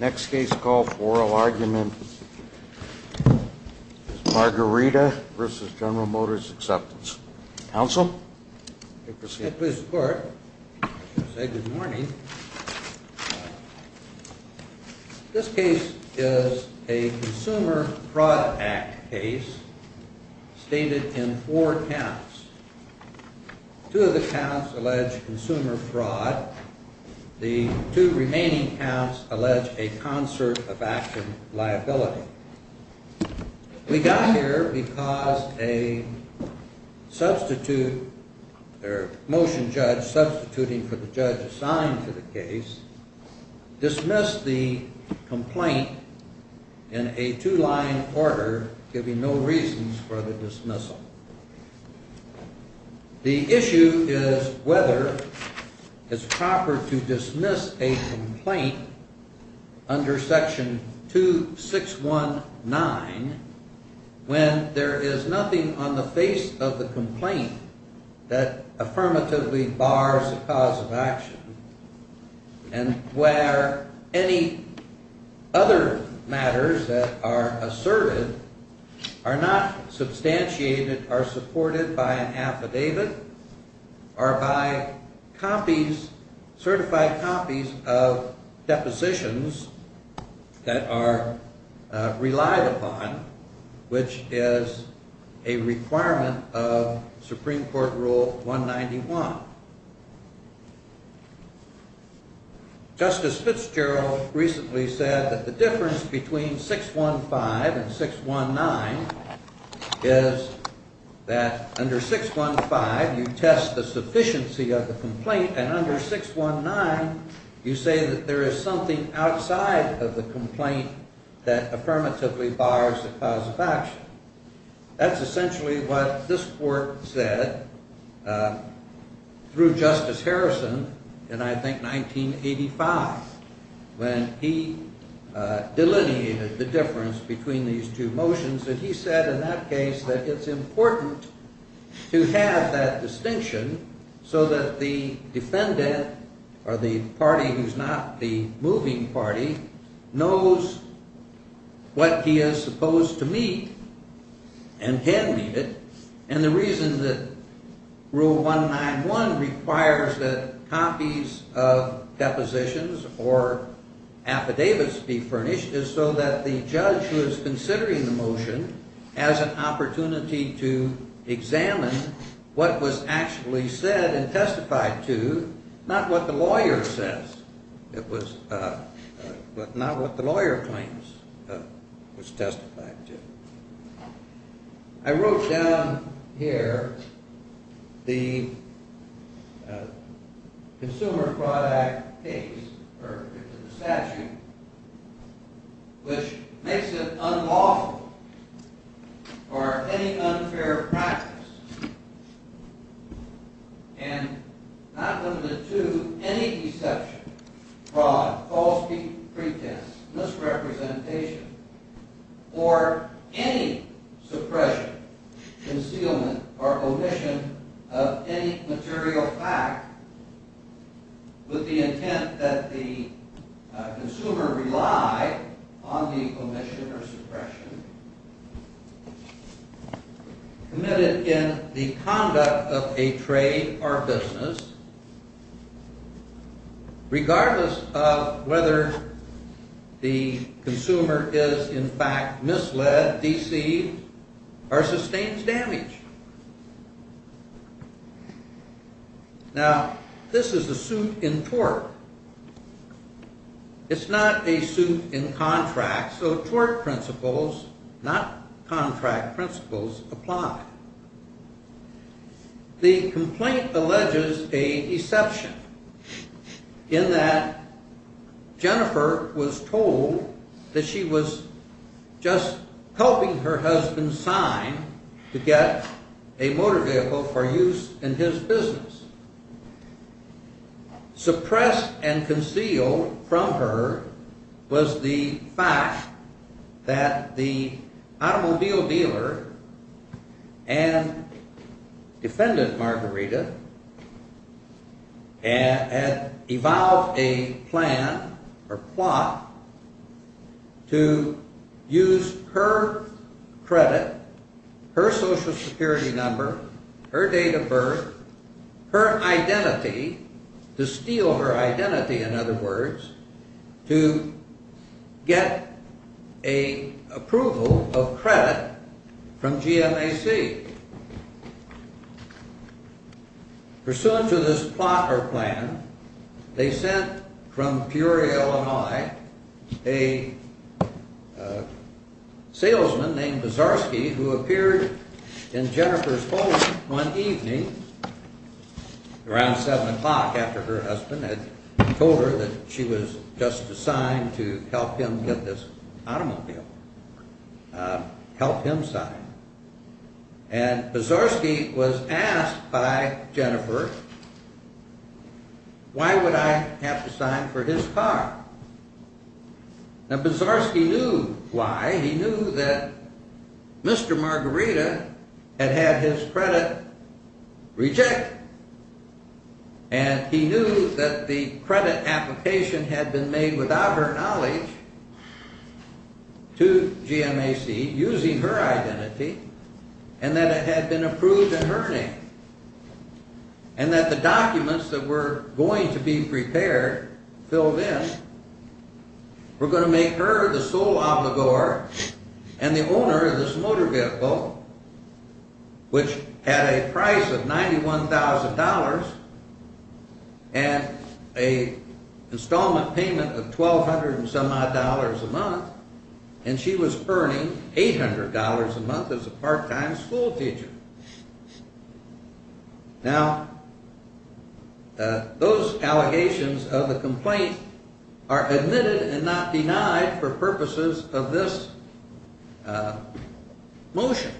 Next case call for oral argument is Margarida v. General Motors Acceptance. Counsel? Mr. Clerk, I'd like to say good morning. This case is a Consumer Fraud Act case stated in four counts. Two of the counts allege consumer fraud. The two remaining counts allege a concert of action liability. We got here because a motion judge substituting for the judge assigned to the case dismissed the complaint in a two-line order giving no reasons for the dismissal. The issue is whether it's proper to dismiss a complaint under Section 2619 when there is nothing on the face of the complaint that affirmatively bars the cause of action and where any other matters that are asserted are not substantiated, are supported by an affidavit or by copies, certified copies of depositions that are relied upon, which is a requirement of Supreme Court Rule 191. Justice Fitzgerald recently said that the difference between 615 and 619 is that under 615 you test the sufficiency of the complaint and under 619 you say that there is something outside of the complaint that affirmatively bars the cause of action. That's essentially what this court said through Justice Harrison in, I think, 1985 when he delineated the difference between these two motions. And he said in that case that it's important to have that distinction so that the defendant or the party who's not the moving party knows what he is supposed to meet and can meet it. And the reason that Rule 191 requires that copies of depositions or affidavits be furnished is so that the judge who is considering the motion has an opportunity to examine what was actually said and testified to, not what the lawyer says, not what the lawyer claims was testified to. I wrote down here the Consumer Fraud Act case, or the statute, which makes it unlawful for any unfair practice and not limited to any deception, fraud, false pretense, misrepresentation, or any suppression, concealment, or omission of any material fact with the intent that the consumer rely on the omission or suppression committed in the conduct of a trade or business, regardless of whether the consumer is, in fact, misled, deceived, or sustains damage. Now, this is a suit in tort. It's not a suit in contract, so tort principles, not contract principles, apply. The complaint alleges a deception in that Jennifer was told that she was just helping her husband sign to get a motor vehicle for use in his business. Suppressed and concealed from her was the fact that the automobile dealer and defendant, Margarita, had evolved a plan or plot to use her credit, her Social Security number, her date of birth, her identity, to steal her identity, in other words, to get an approval of credit from GMAC. Pursuant to this plot or plan, they sent from Peoria, Illinois, a salesman named Buzarski who appeared in Jennifer's home one evening around 7 o'clock after her husband had told her that she was just assigned to help him get this automobile, help him sign. And Buzarski was asked by Jennifer, why would I have to sign for his car? Now, Buzarski knew why. He knew that Mr. Margarita had had his credit rejected, and he knew that the credit application had been made without her knowledge to GMAC using her identity, and that it had been approved in her name, and that the documents that were going to be prepared, filled in, were going to make her the sole obligor and the owner of this motor vehicle, which had a price of $91,000 and an installment payment of $1,200 and some odd a month, and she was earning $800 a month as a part-time school teacher. Now, those allegations of the complaint are admitted and not denied for purposes of this motion.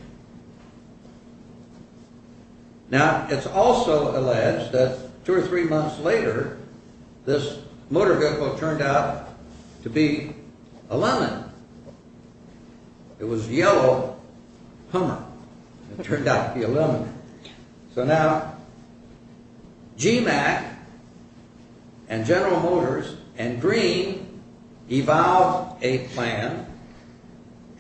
Now, it's also alleged that two or three months later, this motor vehicle turned out to be a lemon. It was a yellow Hummer. It turned out to be a lemon. So now, GMAC and General Motors and Green evolved a plan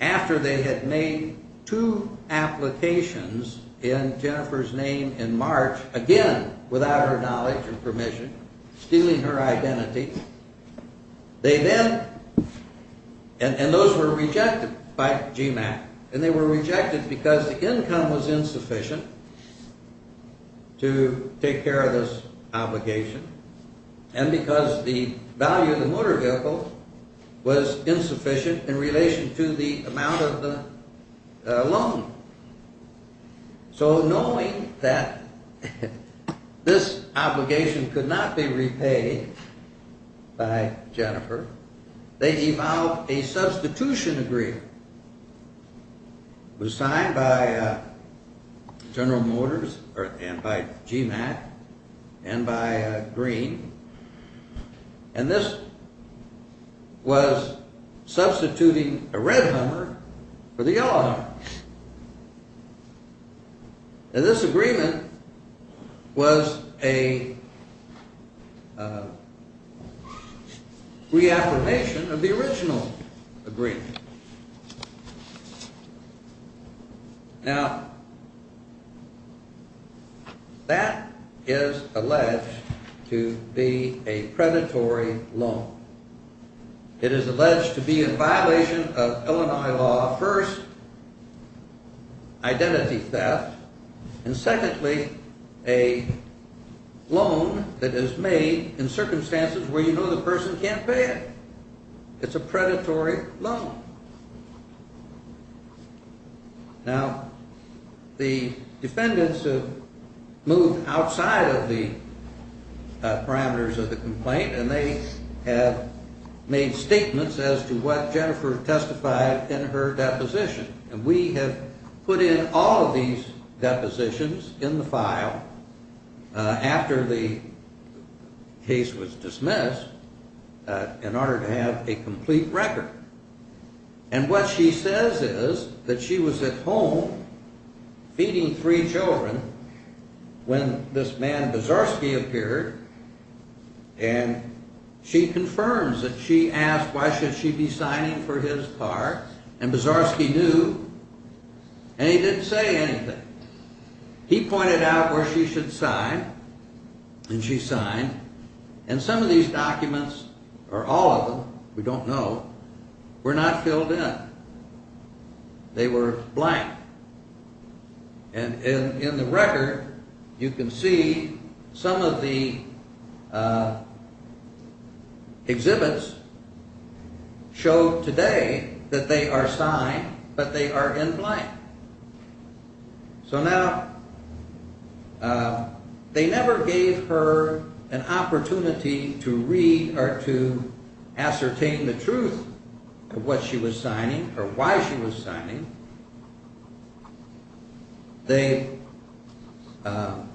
after they had made two applications in Jennifer's name in March, again without her knowledge or permission, stealing her identity. They then, and those were rejected by GMAC, and they were rejected because the income was insufficient to take care of this obligation, and because the value of the motor vehicle was insufficient in relation to the amount of the loan. So knowing that this obligation could not be repaid by Jennifer, they evolved a substitution agreement. It was signed by General Motors and by GMAC and by Green, and this was substituting a red Hummer for the yellow Hummer. And this agreement was a reaffirmation of the original agreement. Now, that is alleged to be a predatory loan. It is alleged to be in violation of Illinois law, first, identity theft, and secondly, a loan that is made in circumstances where you know the person can't pay it. It's a predatory loan. Now, the defendants have moved outside of the parameters of the complaint, and they have made statements as to what Jennifer testified in her deposition, and we have put in all of these depositions in the file after the case was dismissed in order to have a complete record. And what she says is that she was at home feeding three children when this man Buzarski appeared, and she confirms that she asked why should she be signing for his car, and Buzarski knew, and he didn't say anything. He pointed out where she should sign, and she signed, and some of these documents, or all of them, we don't know, were not filled in. They were blank. And in the record, you can see some of the exhibits show today that they are signed, but they are in blank. So now, they never gave her an opportunity to read or to ascertain the truth of what she was signing or why she was signing. They had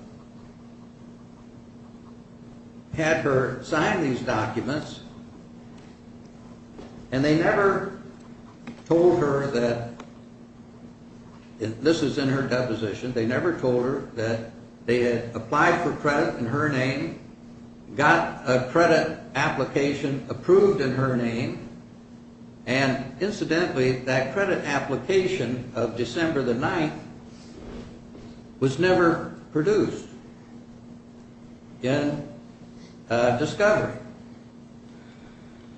her sign these documents, and they never told her that, this is in her deposition, they never told her that they had applied for credit in her name, got a credit application approved in her name, and incidentally, that credit application of December the 9th was never produced in discovery.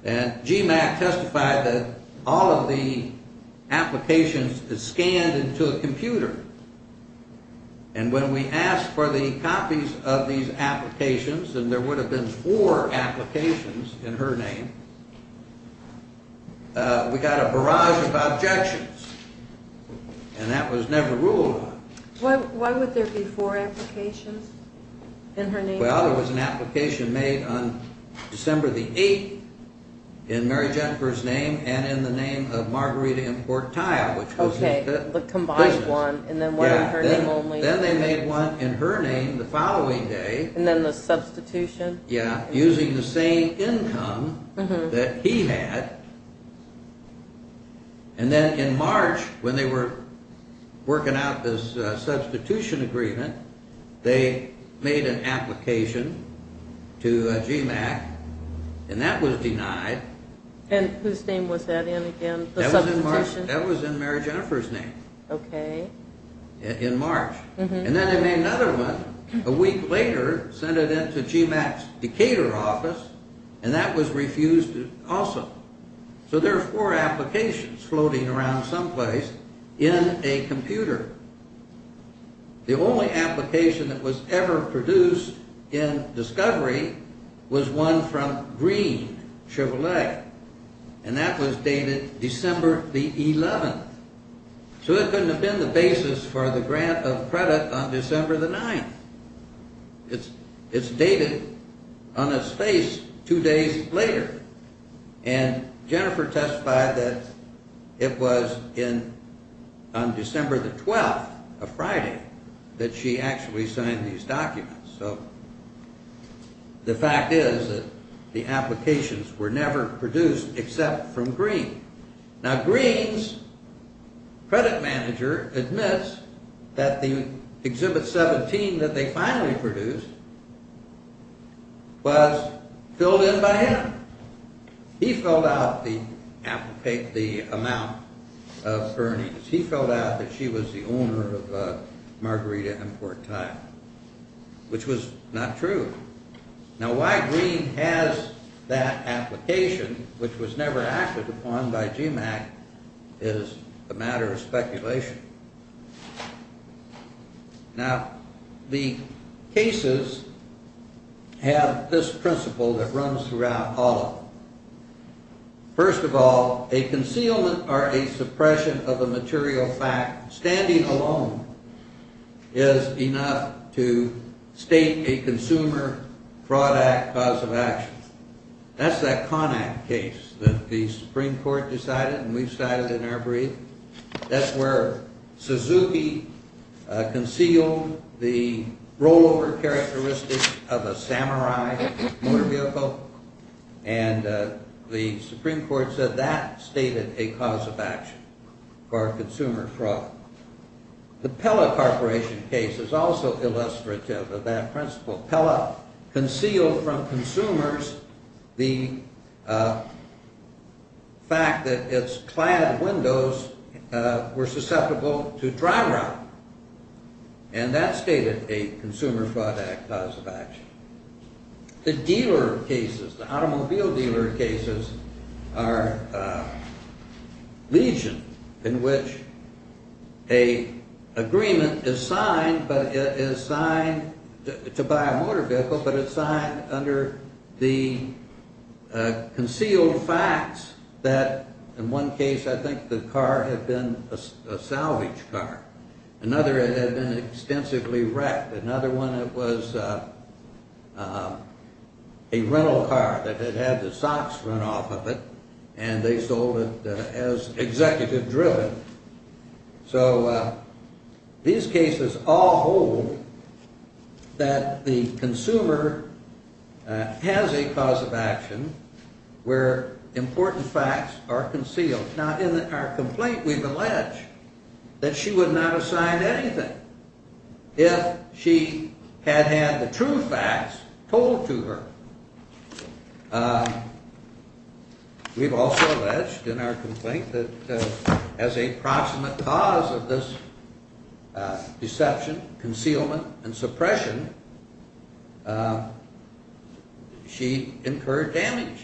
And GMAC testified that all of the applications is scanned into a computer, and when we asked for the copies of these applications, and there would have been four applications in her name, we got a barrage of objections, and that was never ruled on. Why would there be four applications in her name? Well, there was an application made on December the 8th in Mary Jennifer's name, and in the name of Margarita Importaya, which was the business. Okay, the combined one, and then one in her name only. Yeah, then they made one in her name the following day. And then the substitution? Yeah, using the same income that he had, and then in March, when they were working out this substitution agreement, they made an application to GMAC, and that was denied. And whose name was that in again, the substitution? That was in Mary Jennifer's name. Okay. In March. And then they made another one a week later, sent it in to GMAC's Decatur office, and that was refused also. So there are four applications floating around someplace in a computer. The only application that was ever produced in Discovery was one from Green Chevrolet, and that was dated December the 11th. So it couldn't have been the basis for the grant of credit on December the 9th. It's dated on a space two days later, and Jennifer testified that it was on December the 12th of Friday that she actually signed these documents. So the fact is that the applications were never produced except from Green. Now Green's credit manager admits that the Exhibit 17 that they finally produced was filled in by him. He filled out the amount of earnings. He filled out that she was the owner of a margarita import tile, which was not true. Now why Green has that application, which was never acted upon by GMAC, is a matter of speculation. Now the cases have this principle that runs throughout all of them. First of all, a concealment or a suppression of a material fact standing alone is enough to state a Consumer Fraud Act cause of action. That's that Con Act case that the Supreme Court decided and we decided in our brief. That's where Suzuki concealed the rollover characteristics of a samurai motor vehicle and the Supreme Court said that stated a cause of action for a consumer fraud. The Pella Corporation case is also illustrative of that principle. Pella concealed from consumers the fact that its clad windows were susceptible to dry rot and that stated a Consumer Fraud Act cause of action. The dealer cases, the automobile dealer cases are legion in which an agreement is signed, but it is signed to buy a motor vehicle, but it's signed under the concealed facts that in one case I think the car had been a salvage car. Another it had been extensively wrecked. Another one it was a rental car that had had the socks run off of it and they sold it as executive driven. So these cases all hold that the consumer has a cause of action where important facts are concealed. Now in our complaint we've alleged that she would not have signed anything if she had had the true facts told to her. We've also alleged in our complaint that as a proximate cause of this deception, concealment, and suppression she incurred damage.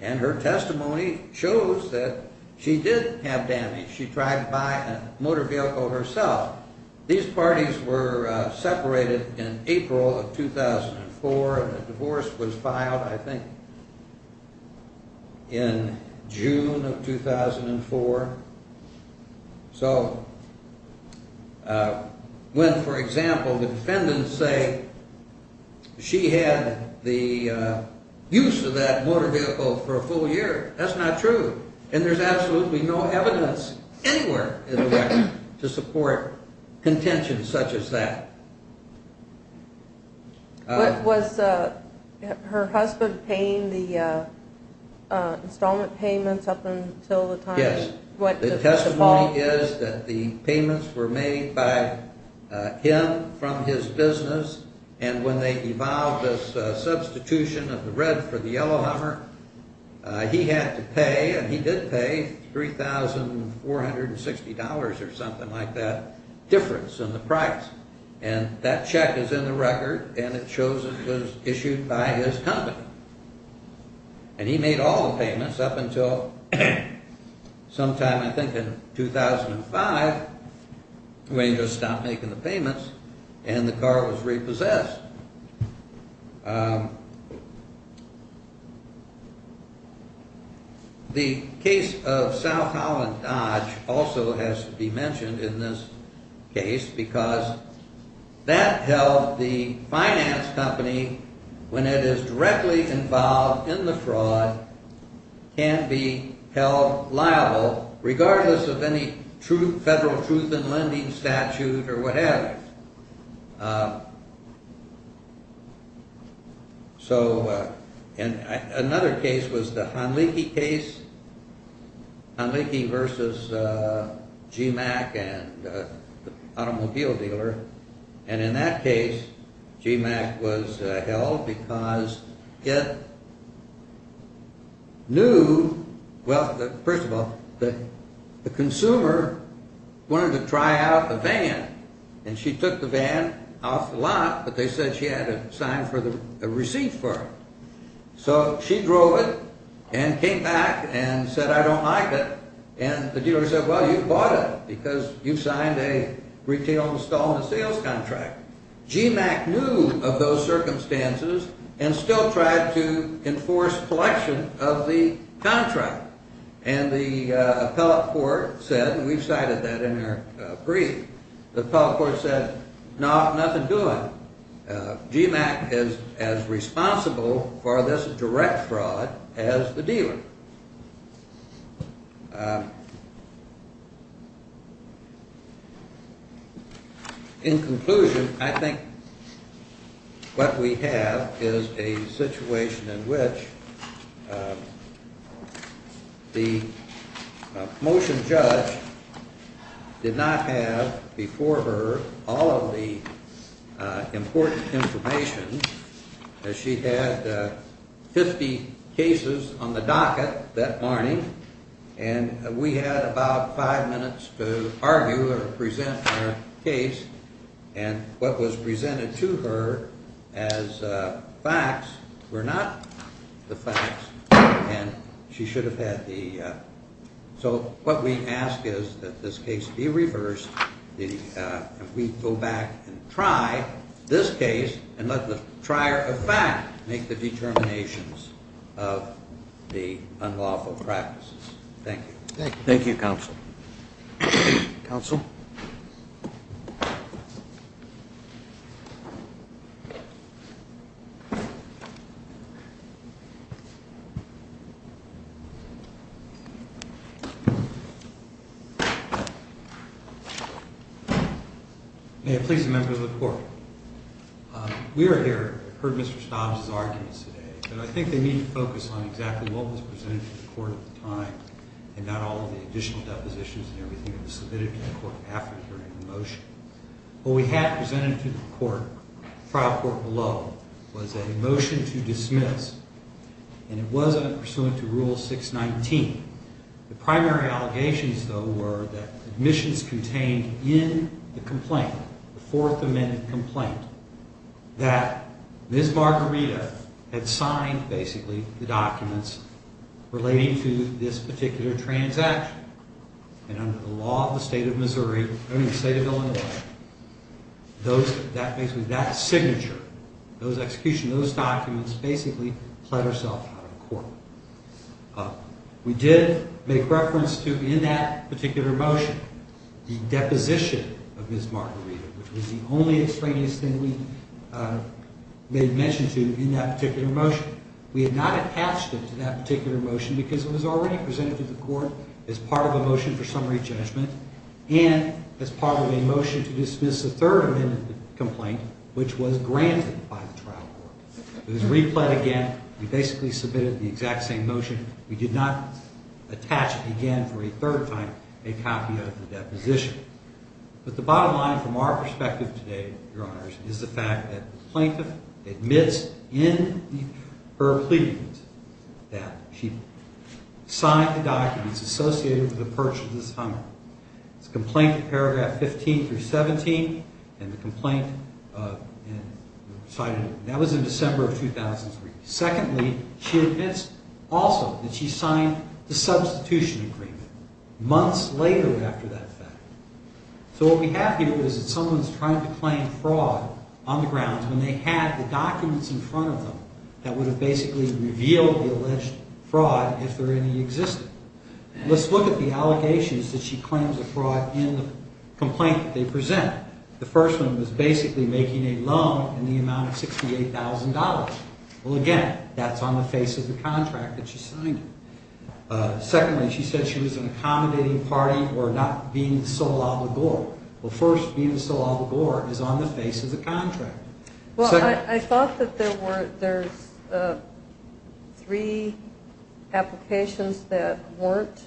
And her testimony shows that she did have damage. She tried to buy a motor vehicle herself. These parties were separated in April of 2004 and the divorce was filed I think in June of 2004. So when for example the defendants say she had the use of that motor vehicle for a full year, that's not true. And there's absolutely no evidence anywhere in the record to support contention such as that. Was her husband paying the installment payments up until the time? Yes. The testimony is that the payments were made by him from his business and when they evolved as substitution of the red for the yellow hammer, he had to pay and he did pay $3,460 or something like that difference in the price. And that check is in the record and it shows it was issued by his company. And he made all the payments up until sometime I think in 2005 when he just stopped making the payments and the car was repossessed. The case of South Holland Dodge also has to be mentioned in this case because that held the finance company when it is directly involved in the fraud can be held liable regardless of any federal truth in lending statute or whatever. So another case was the Honleki case, Honleki versus GMAC and the automobile dealer. And in that case, GMAC was held because it knew, well, first of all, the consumer wanted to try out the van and she took the van off the lot but they said she had to sign a receipt for it. So she drove it and came back and said, I don't like it. And the dealer said, well, you bought it because you signed a retail installment sales contract. GMAC knew of those circumstances and still tried to enforce collection of the contract. And the appellate court said, and we've cited that in our brief, the appellate court said, no, nothing doing. GMAC is as responsible for this direct fraud as the dealer. In conclusion, I think what we have is a situation in which the motion judge did not have before her all of the important information. She had 50 cases on the docket that morning and we had about five minutes to argue or present her case. And what was presented to her as facts were not the facts and she should have had the, so what we ask is that this case be reversed. If we go back and try this case and let the trier of fact make the determinations of the unlawful practices. Thank you. Thank you, Counsel. Counsel? May it please the members of the court. We are here, heard Mr. Stobbs' arguments today, and I think they need to focus on exactly what was presented to the court at the time and not all of the additional depositions and everything that was submitted to the court after hearing the motion. What we had presented to the court, trial court below, was a motion to dismiss. And it was pursuant to Rule 619. The primary allegations, though, were that admissions contained in the complaint, the Fourth Amendment complaint, that Ms. Margarita had signed basically the documents relating to this particular transaction. And under the law of the state of Missouri, I mean the state of Illinois, those, that basically, that signature, those executions, those documents basically clad ourselves out of court. We did make reference to, in that particular motion, the deposition of Ms. Margarita, which was the only extraneous thing we made mention to in that particular motion. We had not attached it to that particular motion because it was already presented to the court as part of a motion for summary judgment and as part of a motion to dismiss the Third Amendment complaint, which was granted by the trial court. It was replayed again. We basically submitted the exact same motion. We did not attach again for a third time a copy of the deposition. But the bottom line from our perspective today, Your Honors, is the fact that the plaintiff admits in her plea that she signed the documents associated with the purchase of this Hummer. It's a complaint in paragraph 15 through 17, and the complaint, that was in December of 2003. Secondly, she admits also that she signed the substitution agreement months later after that fact. So what we have here is that someone's trying to claim fraud on the grounds when they had the documents in front of them that would have basically revealed the alleged fraud if there any existed. Let's look at the allegations that she claims of fraud in the complaint that they present. The first one was basically making a loan in the amount of $68,000. Well, again, that's on the face of the contract that she signed. Secondly, she said she was an accommodating party or not being the sole obligor. Well, first, being the sole obligor is on the face of the contract. Well, I thought that there were three applications that weren't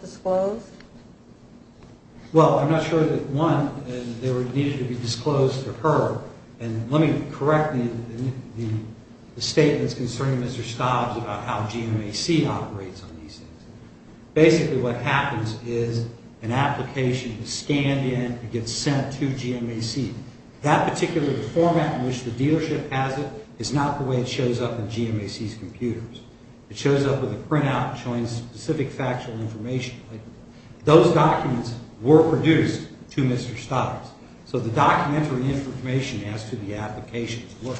disclosed. Well, I'm not sure that one needed to be disclosed to her. And let me correct the statements concerning Mr. Stobbs about how GMAC operates on these things. Basically what happens is an application is scanned in and gets sent to GMAC. That particular format in which the dealership has it is not the way it shows up in GMAC's computers. It shows up with a printout showing specific factual information. Those documents were produced to Mr. Stobbs. So the documentary information as to the applications were.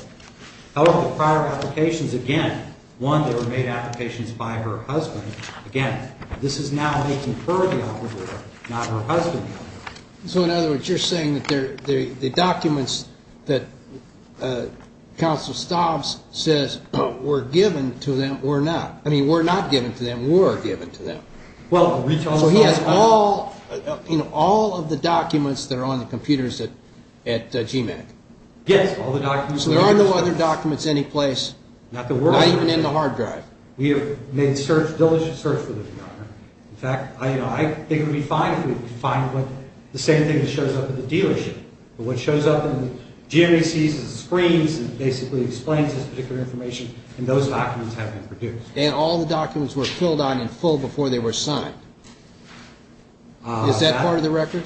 However, the prior applications, again, one, they were made applications by her husband. Again, this is now making her the obligor, not her husband the obligor. So, in other words, you're saying that the documents that Counsel Stobbs says were given to them were not. I mean, were not given to them, were given to them. So he has all of the documents that are on the computers at GMAC. Yes, all the documents. So there are no other documents any place. Not that we're. Not even in the hard drive. We have made search, diligent search for them, Your Honor. In fact, I think it would be fine if we could find the same thing that shows up at the dealership. But what shows up in GMAC's screens and basically explains this particular information and those documents have been produced. And all the documents were filled out in full before they were signed. Is that part of the record?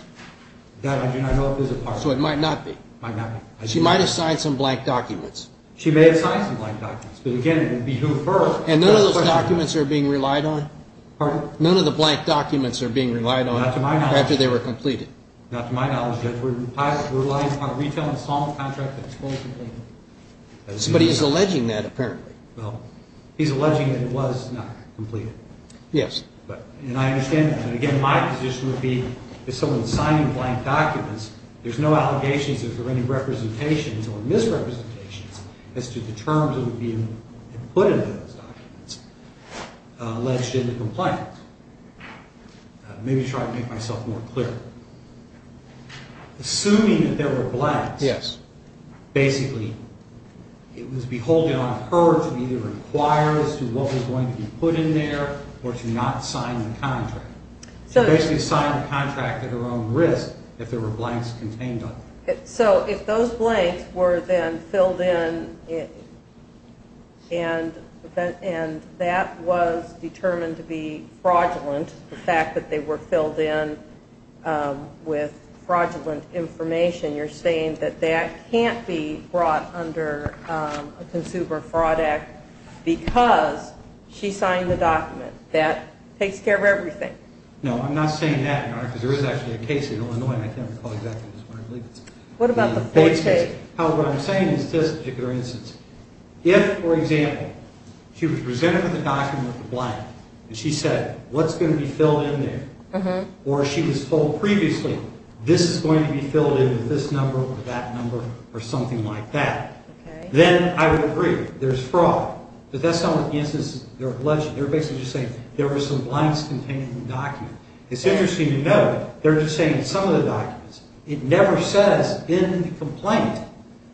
That I do not know if is a part of it. So it might not be. She might have signed some blank documents. She may have signed some blank documents. But, again, it would be who first. And none of those documents are being relied on? Pardon? None of the blank documents are being relied on. Not to my knowledge. After they were completed. Not to my knowledge, Judge. We're relying on a retail installment contract that's fully completed. But he's alleging that apparently. Well, he's alleging that it was not completed. Yes. And I understand that. And, again, my position would be if someone's signing blank documents, there's no allegations, there's no representations or misrepresentations as to the terms that would be put into those documents alleged in the complaint. Maybe try to make myself more clear. Assuming that there were blanks. Yes. Basically, it was beholden on her to either inquire as to what was going to be put in there or to not sign the contract. So basically sign the contract at her own risk if there were blanks contained on it. So if those blanks were then filled in and that was determined to be fraudulent, the fact that they were filled in with fraudulent information, you're saying that that can't be brought under a Consumer Fraud Act because she signed the document. That takes care of everything. No, I'm not saying that, Your Honor, because there is actually a case in Illinois, and I can't recall exactly what it is, but I believe it's a case. What about the full case? However, what I'm saying is just a particular instance. If, for example, she was presented with a document with a blank and she said, what's going to be filled in there, or she was told previously, this is going to be filled in with this number or that number or something like that, then I would agree there's fraud. But that's not an instance of alleging. They're basically just saying there were some blanks contained in the document. It's interesting to note they're just saying in some of the documents. It never says in the complaint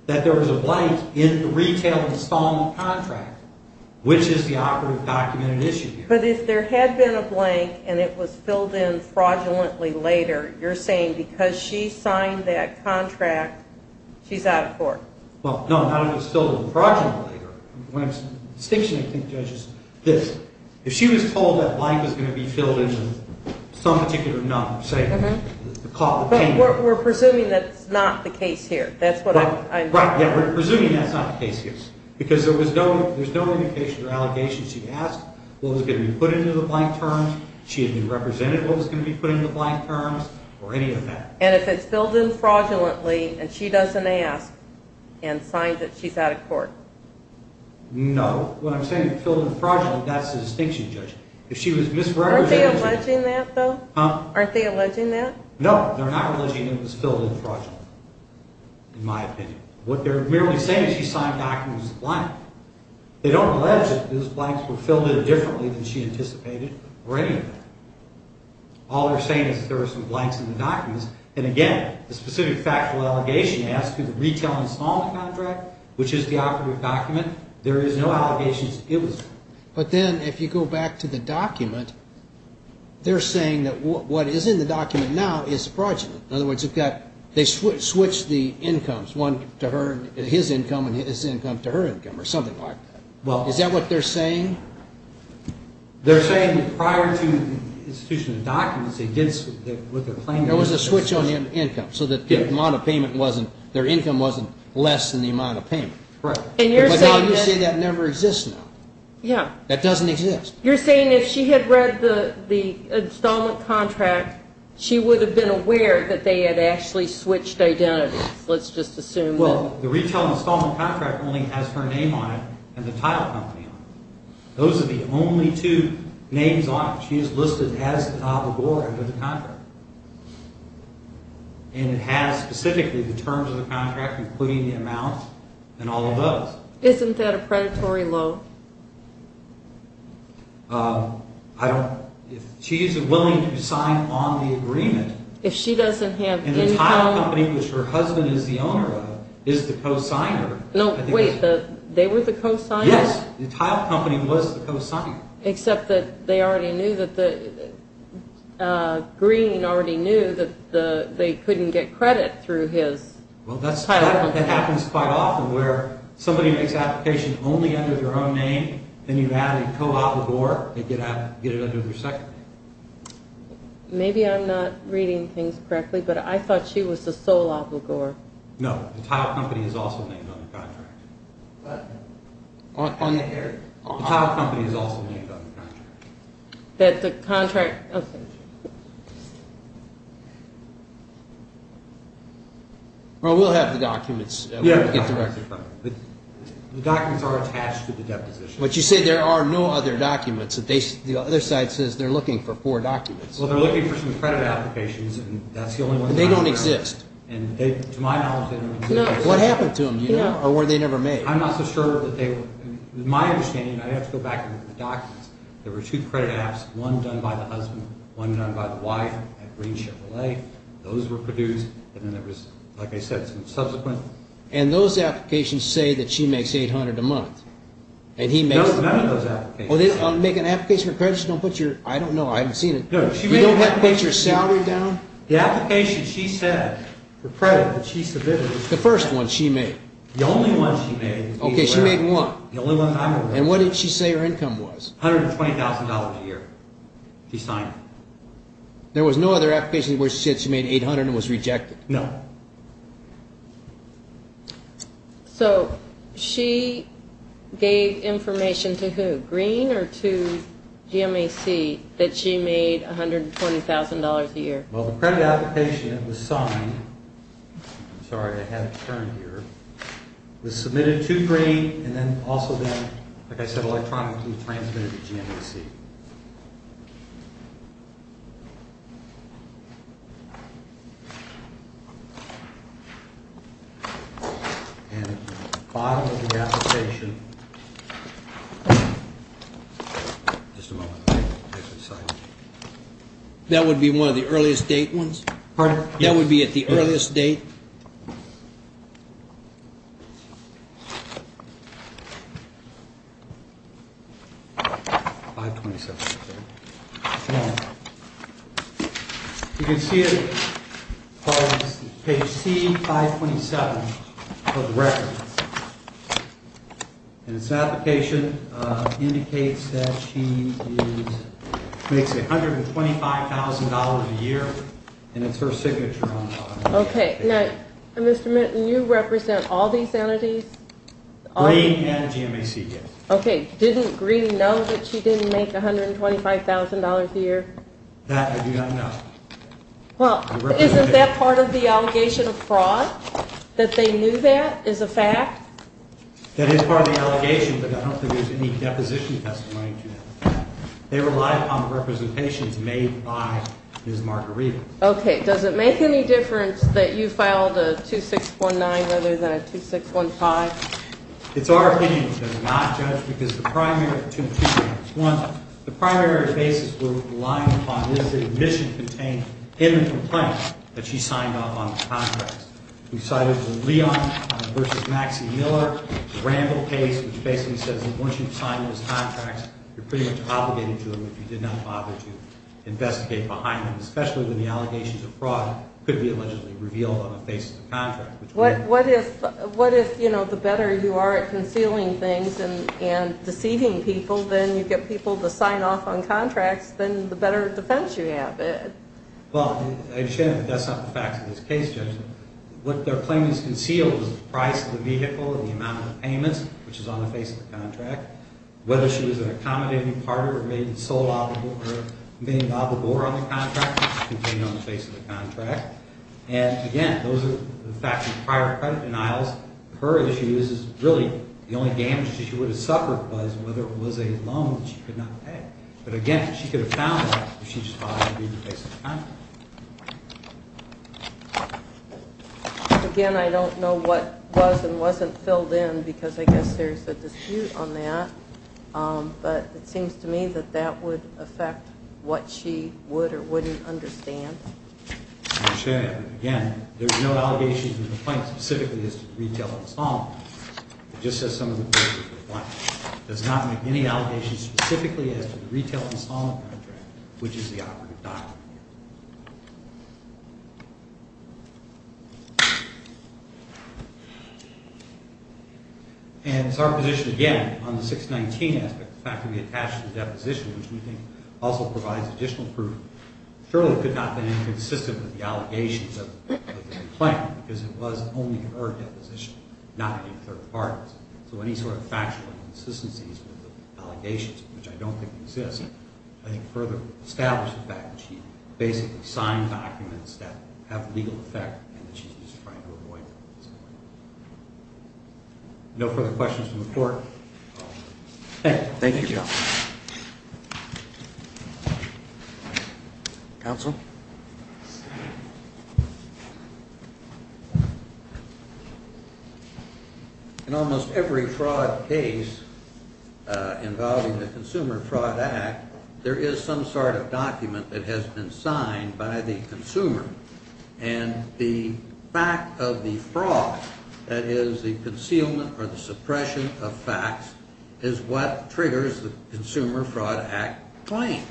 that there was a blank in the retail installment contract, which is the operative documented issue here. But if there had been a blank and it was filled in fraudulently later, you're saying because she signed that contract, she's out of court. Well, no, not if it's filled in fraudulently later. The distinction, I think, Judge, is this. If she was told that blank was going to be filled in with some particular number, But we're presuming that's not the case here. Right, yeah, we're presuming that's not the case here. Because there was no indication or allegation. She asked what was going to be put into the blank terms. She had represented what was going to be put into the blank terms or any of that. And if it's filled in fraudulently and she doesn't ask and signs it, she's out of court. No. When I'm saying filled in fraudulently, that's the distinction, Judge. Aren't they alleging that, though? Huh? Aren't they alleging that? No, they're not alleging it was filled in fraudulently, in my opinion. What they're merely saying is she signed the document as a blank. They don't allege that those blanks were filled in differently than she anticipated or any of that. All they're saying is that there were some blanks in the documents. And, again, the specific factual allegation as to the retail installment contract, which is the operative document, there is no allegation it was filled in. But then if you go back to the document, they're saying that what is in the document now is fraudulent. In other words, they switched the incomes, his income and his income to her income or something like that. Is that what they're saying? They're saying that prior to the institution of documents, they did what they're claiming. There was a switch on the income so that their income wasn't less than the amount of payment. Right. But now you're saying that never exists now. Yeah. That doesn't exist. You're saying if she had read the installment contract, she would have been aware that they had actually switched identities. Let's just assume that. Well, the retail installment contract only has her name on it and the title company on it. Those are the only two names on it. She is listed as the top of the board under the contract. And it has specifically the terms of the contract, including the amounts and all of those. Isn't that a predatory loan? She is willing to sign on the agreement. If she doesn't have income. And the title company, which her husband is the owner of, is the co-signer. No, wait, they were the co-signer? Yes, the title company was the co-signer. Except that Green already knew that they couldn't get credit through his title company. Well, that happens quite often, where somebody makes an application only under their own name, and you add a co-applicant, they get it under their second name. Maybe I'm not reading things correctly, but I thought she was the sole applicant. No, the title company is also named on the contract. On the area? The title company is also named on the contract. That the contract, okay. Well, we'll have the documents. The documents are attached to the deposition. But you said there are no other documents. The other side says they're looking for four documents. Well, they're looking for some credit applications, and that's the only one. And they don't exist? To my knowledge, they don't exist. What happened to them? Or were they never made? I'm not so sure that they were. My understanding, and I'd have to go back and look at the documents, there were two credit apps, one done by the husband, one done by the wife at Green Chevrolet. Those were produced, and then there was, like I said, some subsequent. And those applications say that she makes $800 a month. No, none of those applications. Make an application for credit, just don't put your, I don't know, I haven't seen it. You don't have to put your salary down? The application she said for credit that she submitted. The first one she made. The only one she made. Okay, she made one. The only one I remember. And what did she say her income was? $120,000 a year she signed. There was no other application where she said she made $800 and was rejected? No. So she gave information to who, Green or to GMAC, that she made $120,000 a year? Well, the credit application that was signed, I'm sorry, I had it turned here, was submitted to Green and then also then, like I said, electronically transmitted to GMAC. And at the bottom of the application, just a moment. That would be one of the earliest date ones? Pardon? That would be at the earliest date? 527. Okay. You can see it on page C, 527 for the record. And this application indicates that she makes $125,000 a year, and it's her signature on it. Okay. Now, Mr. Minton, you represent all these entities? Green and GMAC, yes. Okay. Didn't Green know that she didn't make $125,000 a year? That I do not know. Well, isn't that part of the allegation of fraud, that they knew that is a fact? That is part of the allegation, but I don't think there's any deposition testimony to that. They relied upon representations made by Ms. Margarita. Okay. Does it make any difference that you filed a 2619 rather than a 2615? It's our opinion it does not, Judge, because the primary two reasons. One, the primary basis we're relying upon is the admission contained in the complaint that she signed off on the contracts. We cited the Leon v. Maxey-Miller ramble case, which basically says that once you've signed those contracts, you're pretty much obligated to them if you did not bother to investigate behind them, especially when the allegations of fraud could be allegedly revealed on the face of the contract. What if, you know, the better you are at concealing things and deceiving people, then you get people to sign off on contracts, then the better defense you have it? Well, I understand that that's not the facts of this case, Judge. What their claim is concealed is the price of the vehicle and the amount of payments, which is on the face of the contract, whether she was an accommodating partner or maybe sold out of the board on the contract, which is contained on the face of the contract. And, again, those are the facts of the prior credit denials. Her issue is really the only damage that she would have suffered was whether it was a loan that she could not pay. But, again, she could have found that if she just thought it would be on the face of the contract. Again, I don't know what was and wasn't filled in, because I guess there's a dispute on that. But it seems to me that that would affect what she would or wouldn't understand. I understand that. But, again, there's no allegation or complaint specifically as to the retail installment contract. It just says some of the things that we want. It does not make any allegations specifically as to the retail installment contract, which is the operative document. And so our position, again, on the 619 aspect, the fact that we attached the deposition, which we think also provides additional proof, surely could not have been inconsistent with the allegations of the complaint, because it was only her deposition, not any third parties. So any sort of factual inconsistencies with the allegations, which I don't think exist, I think further establishes the fact that she basically signed documents that have legal effect and that she's just trying to avoid. No further questions from the Court? Thank you. Thank you. Counsel? Counsel? In almost every fraud case involving the Consumer Fraud Act, there is some sort of document that has been signed by the consumer. And the fact of the fraud, that is, the concealment or the suppression of facts, is what triggers the Consumer Fraud Act claim.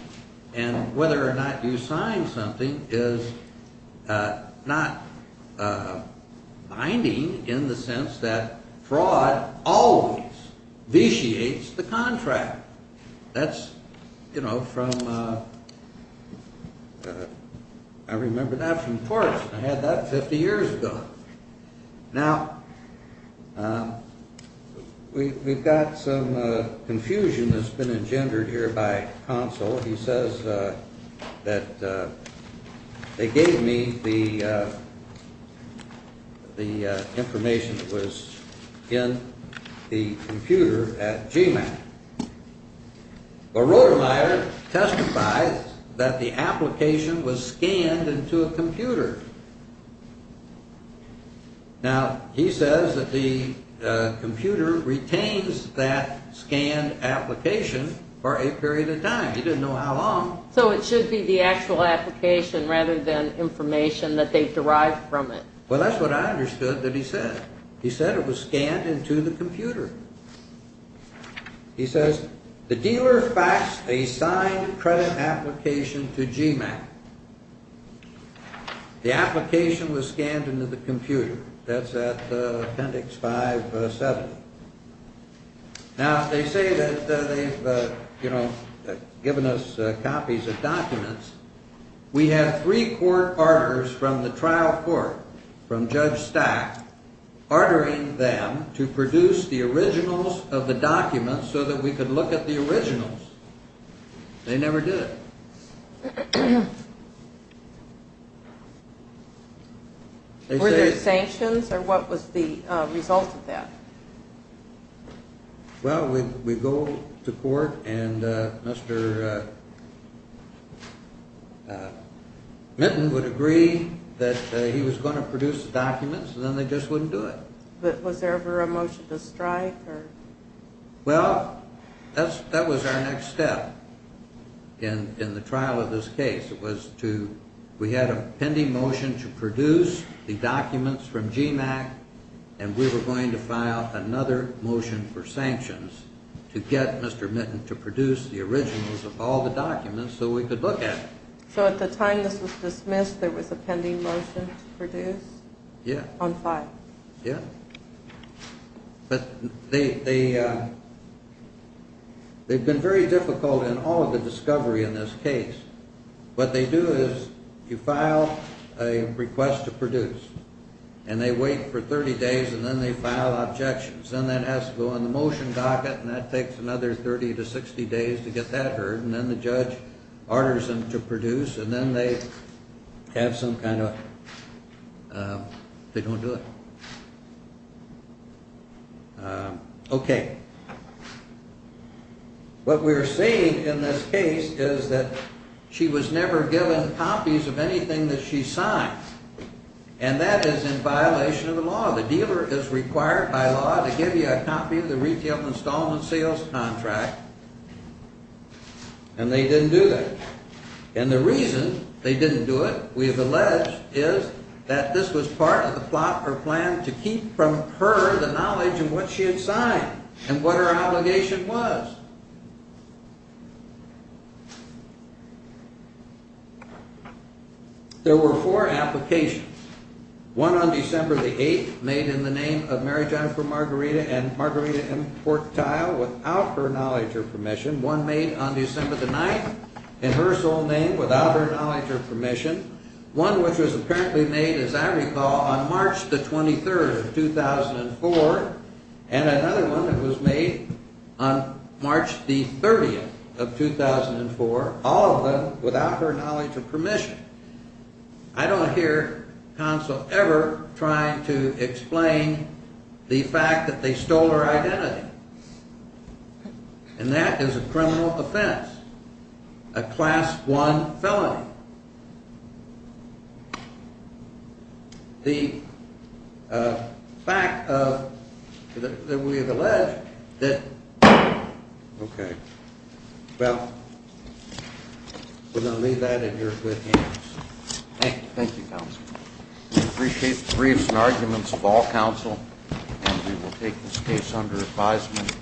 And whether or not you sign something is not binding in the sense that fraud always vitiates the contract. That's, you know, from, I remember that from Torrance. I had that 50 years ago. Now, we've got some confusion that's been engendered here by counsel. He says that they gave me the information that was in the computer at GMAC. But Rotemeyer testifies that the application was scanned into a computer. Now, he says that the computer retains that scanned application for a period of time. He didn't know how long. So it should be the actual application rather than information that they've derived from it. Well, that's what I understood that he said. He said it was scanned into the computer. He says the dealer faxed a signed credit application to GMAC. The application was scanned into the computer. That's at Appendix 570. Now, they say that they've, you know, given us copies of documents. We had three court arters from the trial court, from Judge Stack, artering them to produce the originals of the documents so that we could look at the originals. They never did it. Were there sanctions, or what was the result of that? Well, we go to court, and Mr. Minton would agree that he was going to produce the documents, and then they just wouldn't do it. But was there ever a motion to strike? Well, that was our next step in the trial of this case. It was to, we had a pending motion to produce the documents from GMAC, and we were going to file another motion for sanctions to get Mr. Minton to produce the originals of all the documents so we could look at them. So at the time this was dismissed, there was a pending motion to produce? Yeah. On file? Yeah. But they've been very difficult in all of the discovery in this case. What they do is you file a request to produce, and they wait for 30 days, and then they file objections. Then that has to go on the motion docket, and that takes another 30 to 60 days to get that heard, and then the judge arters them to produce, and then they have some kind of, they don't do it. Okay. What we're saying in this case is that she was never given copies of anything that she signed, and that is in violation of the law. The dealer is required by law to give you a copy of the retail installment sales contract, and they didn't do that. And the reason they didn't do it, we have alleged, is that this was part of the plot or plan to keep from her the knowledge of what she had signed and what her obligation was. There were four applications, one on December the 8th made in the name of Mary Jennifer Margarita and Margarita M. Portile without her knowledge or permission, one made on December the 9th in her sole name without her knowledge or permission, one which was apparently made, as I recall, on March the 23rd of 2004, and another one that was made on March the 30th of 2004, all of them without her knowledge or permission. I don't hear counsel ever trying to explain the fact that they stole her identity, and that is a criminal offense, a Class I felony. The fact that we have alleged that... Okay. Well, we're going to leave that in your good hands. Thank you, counsel. We appreciate the briefs and arguments of all counsel, and we will take this case under advisement.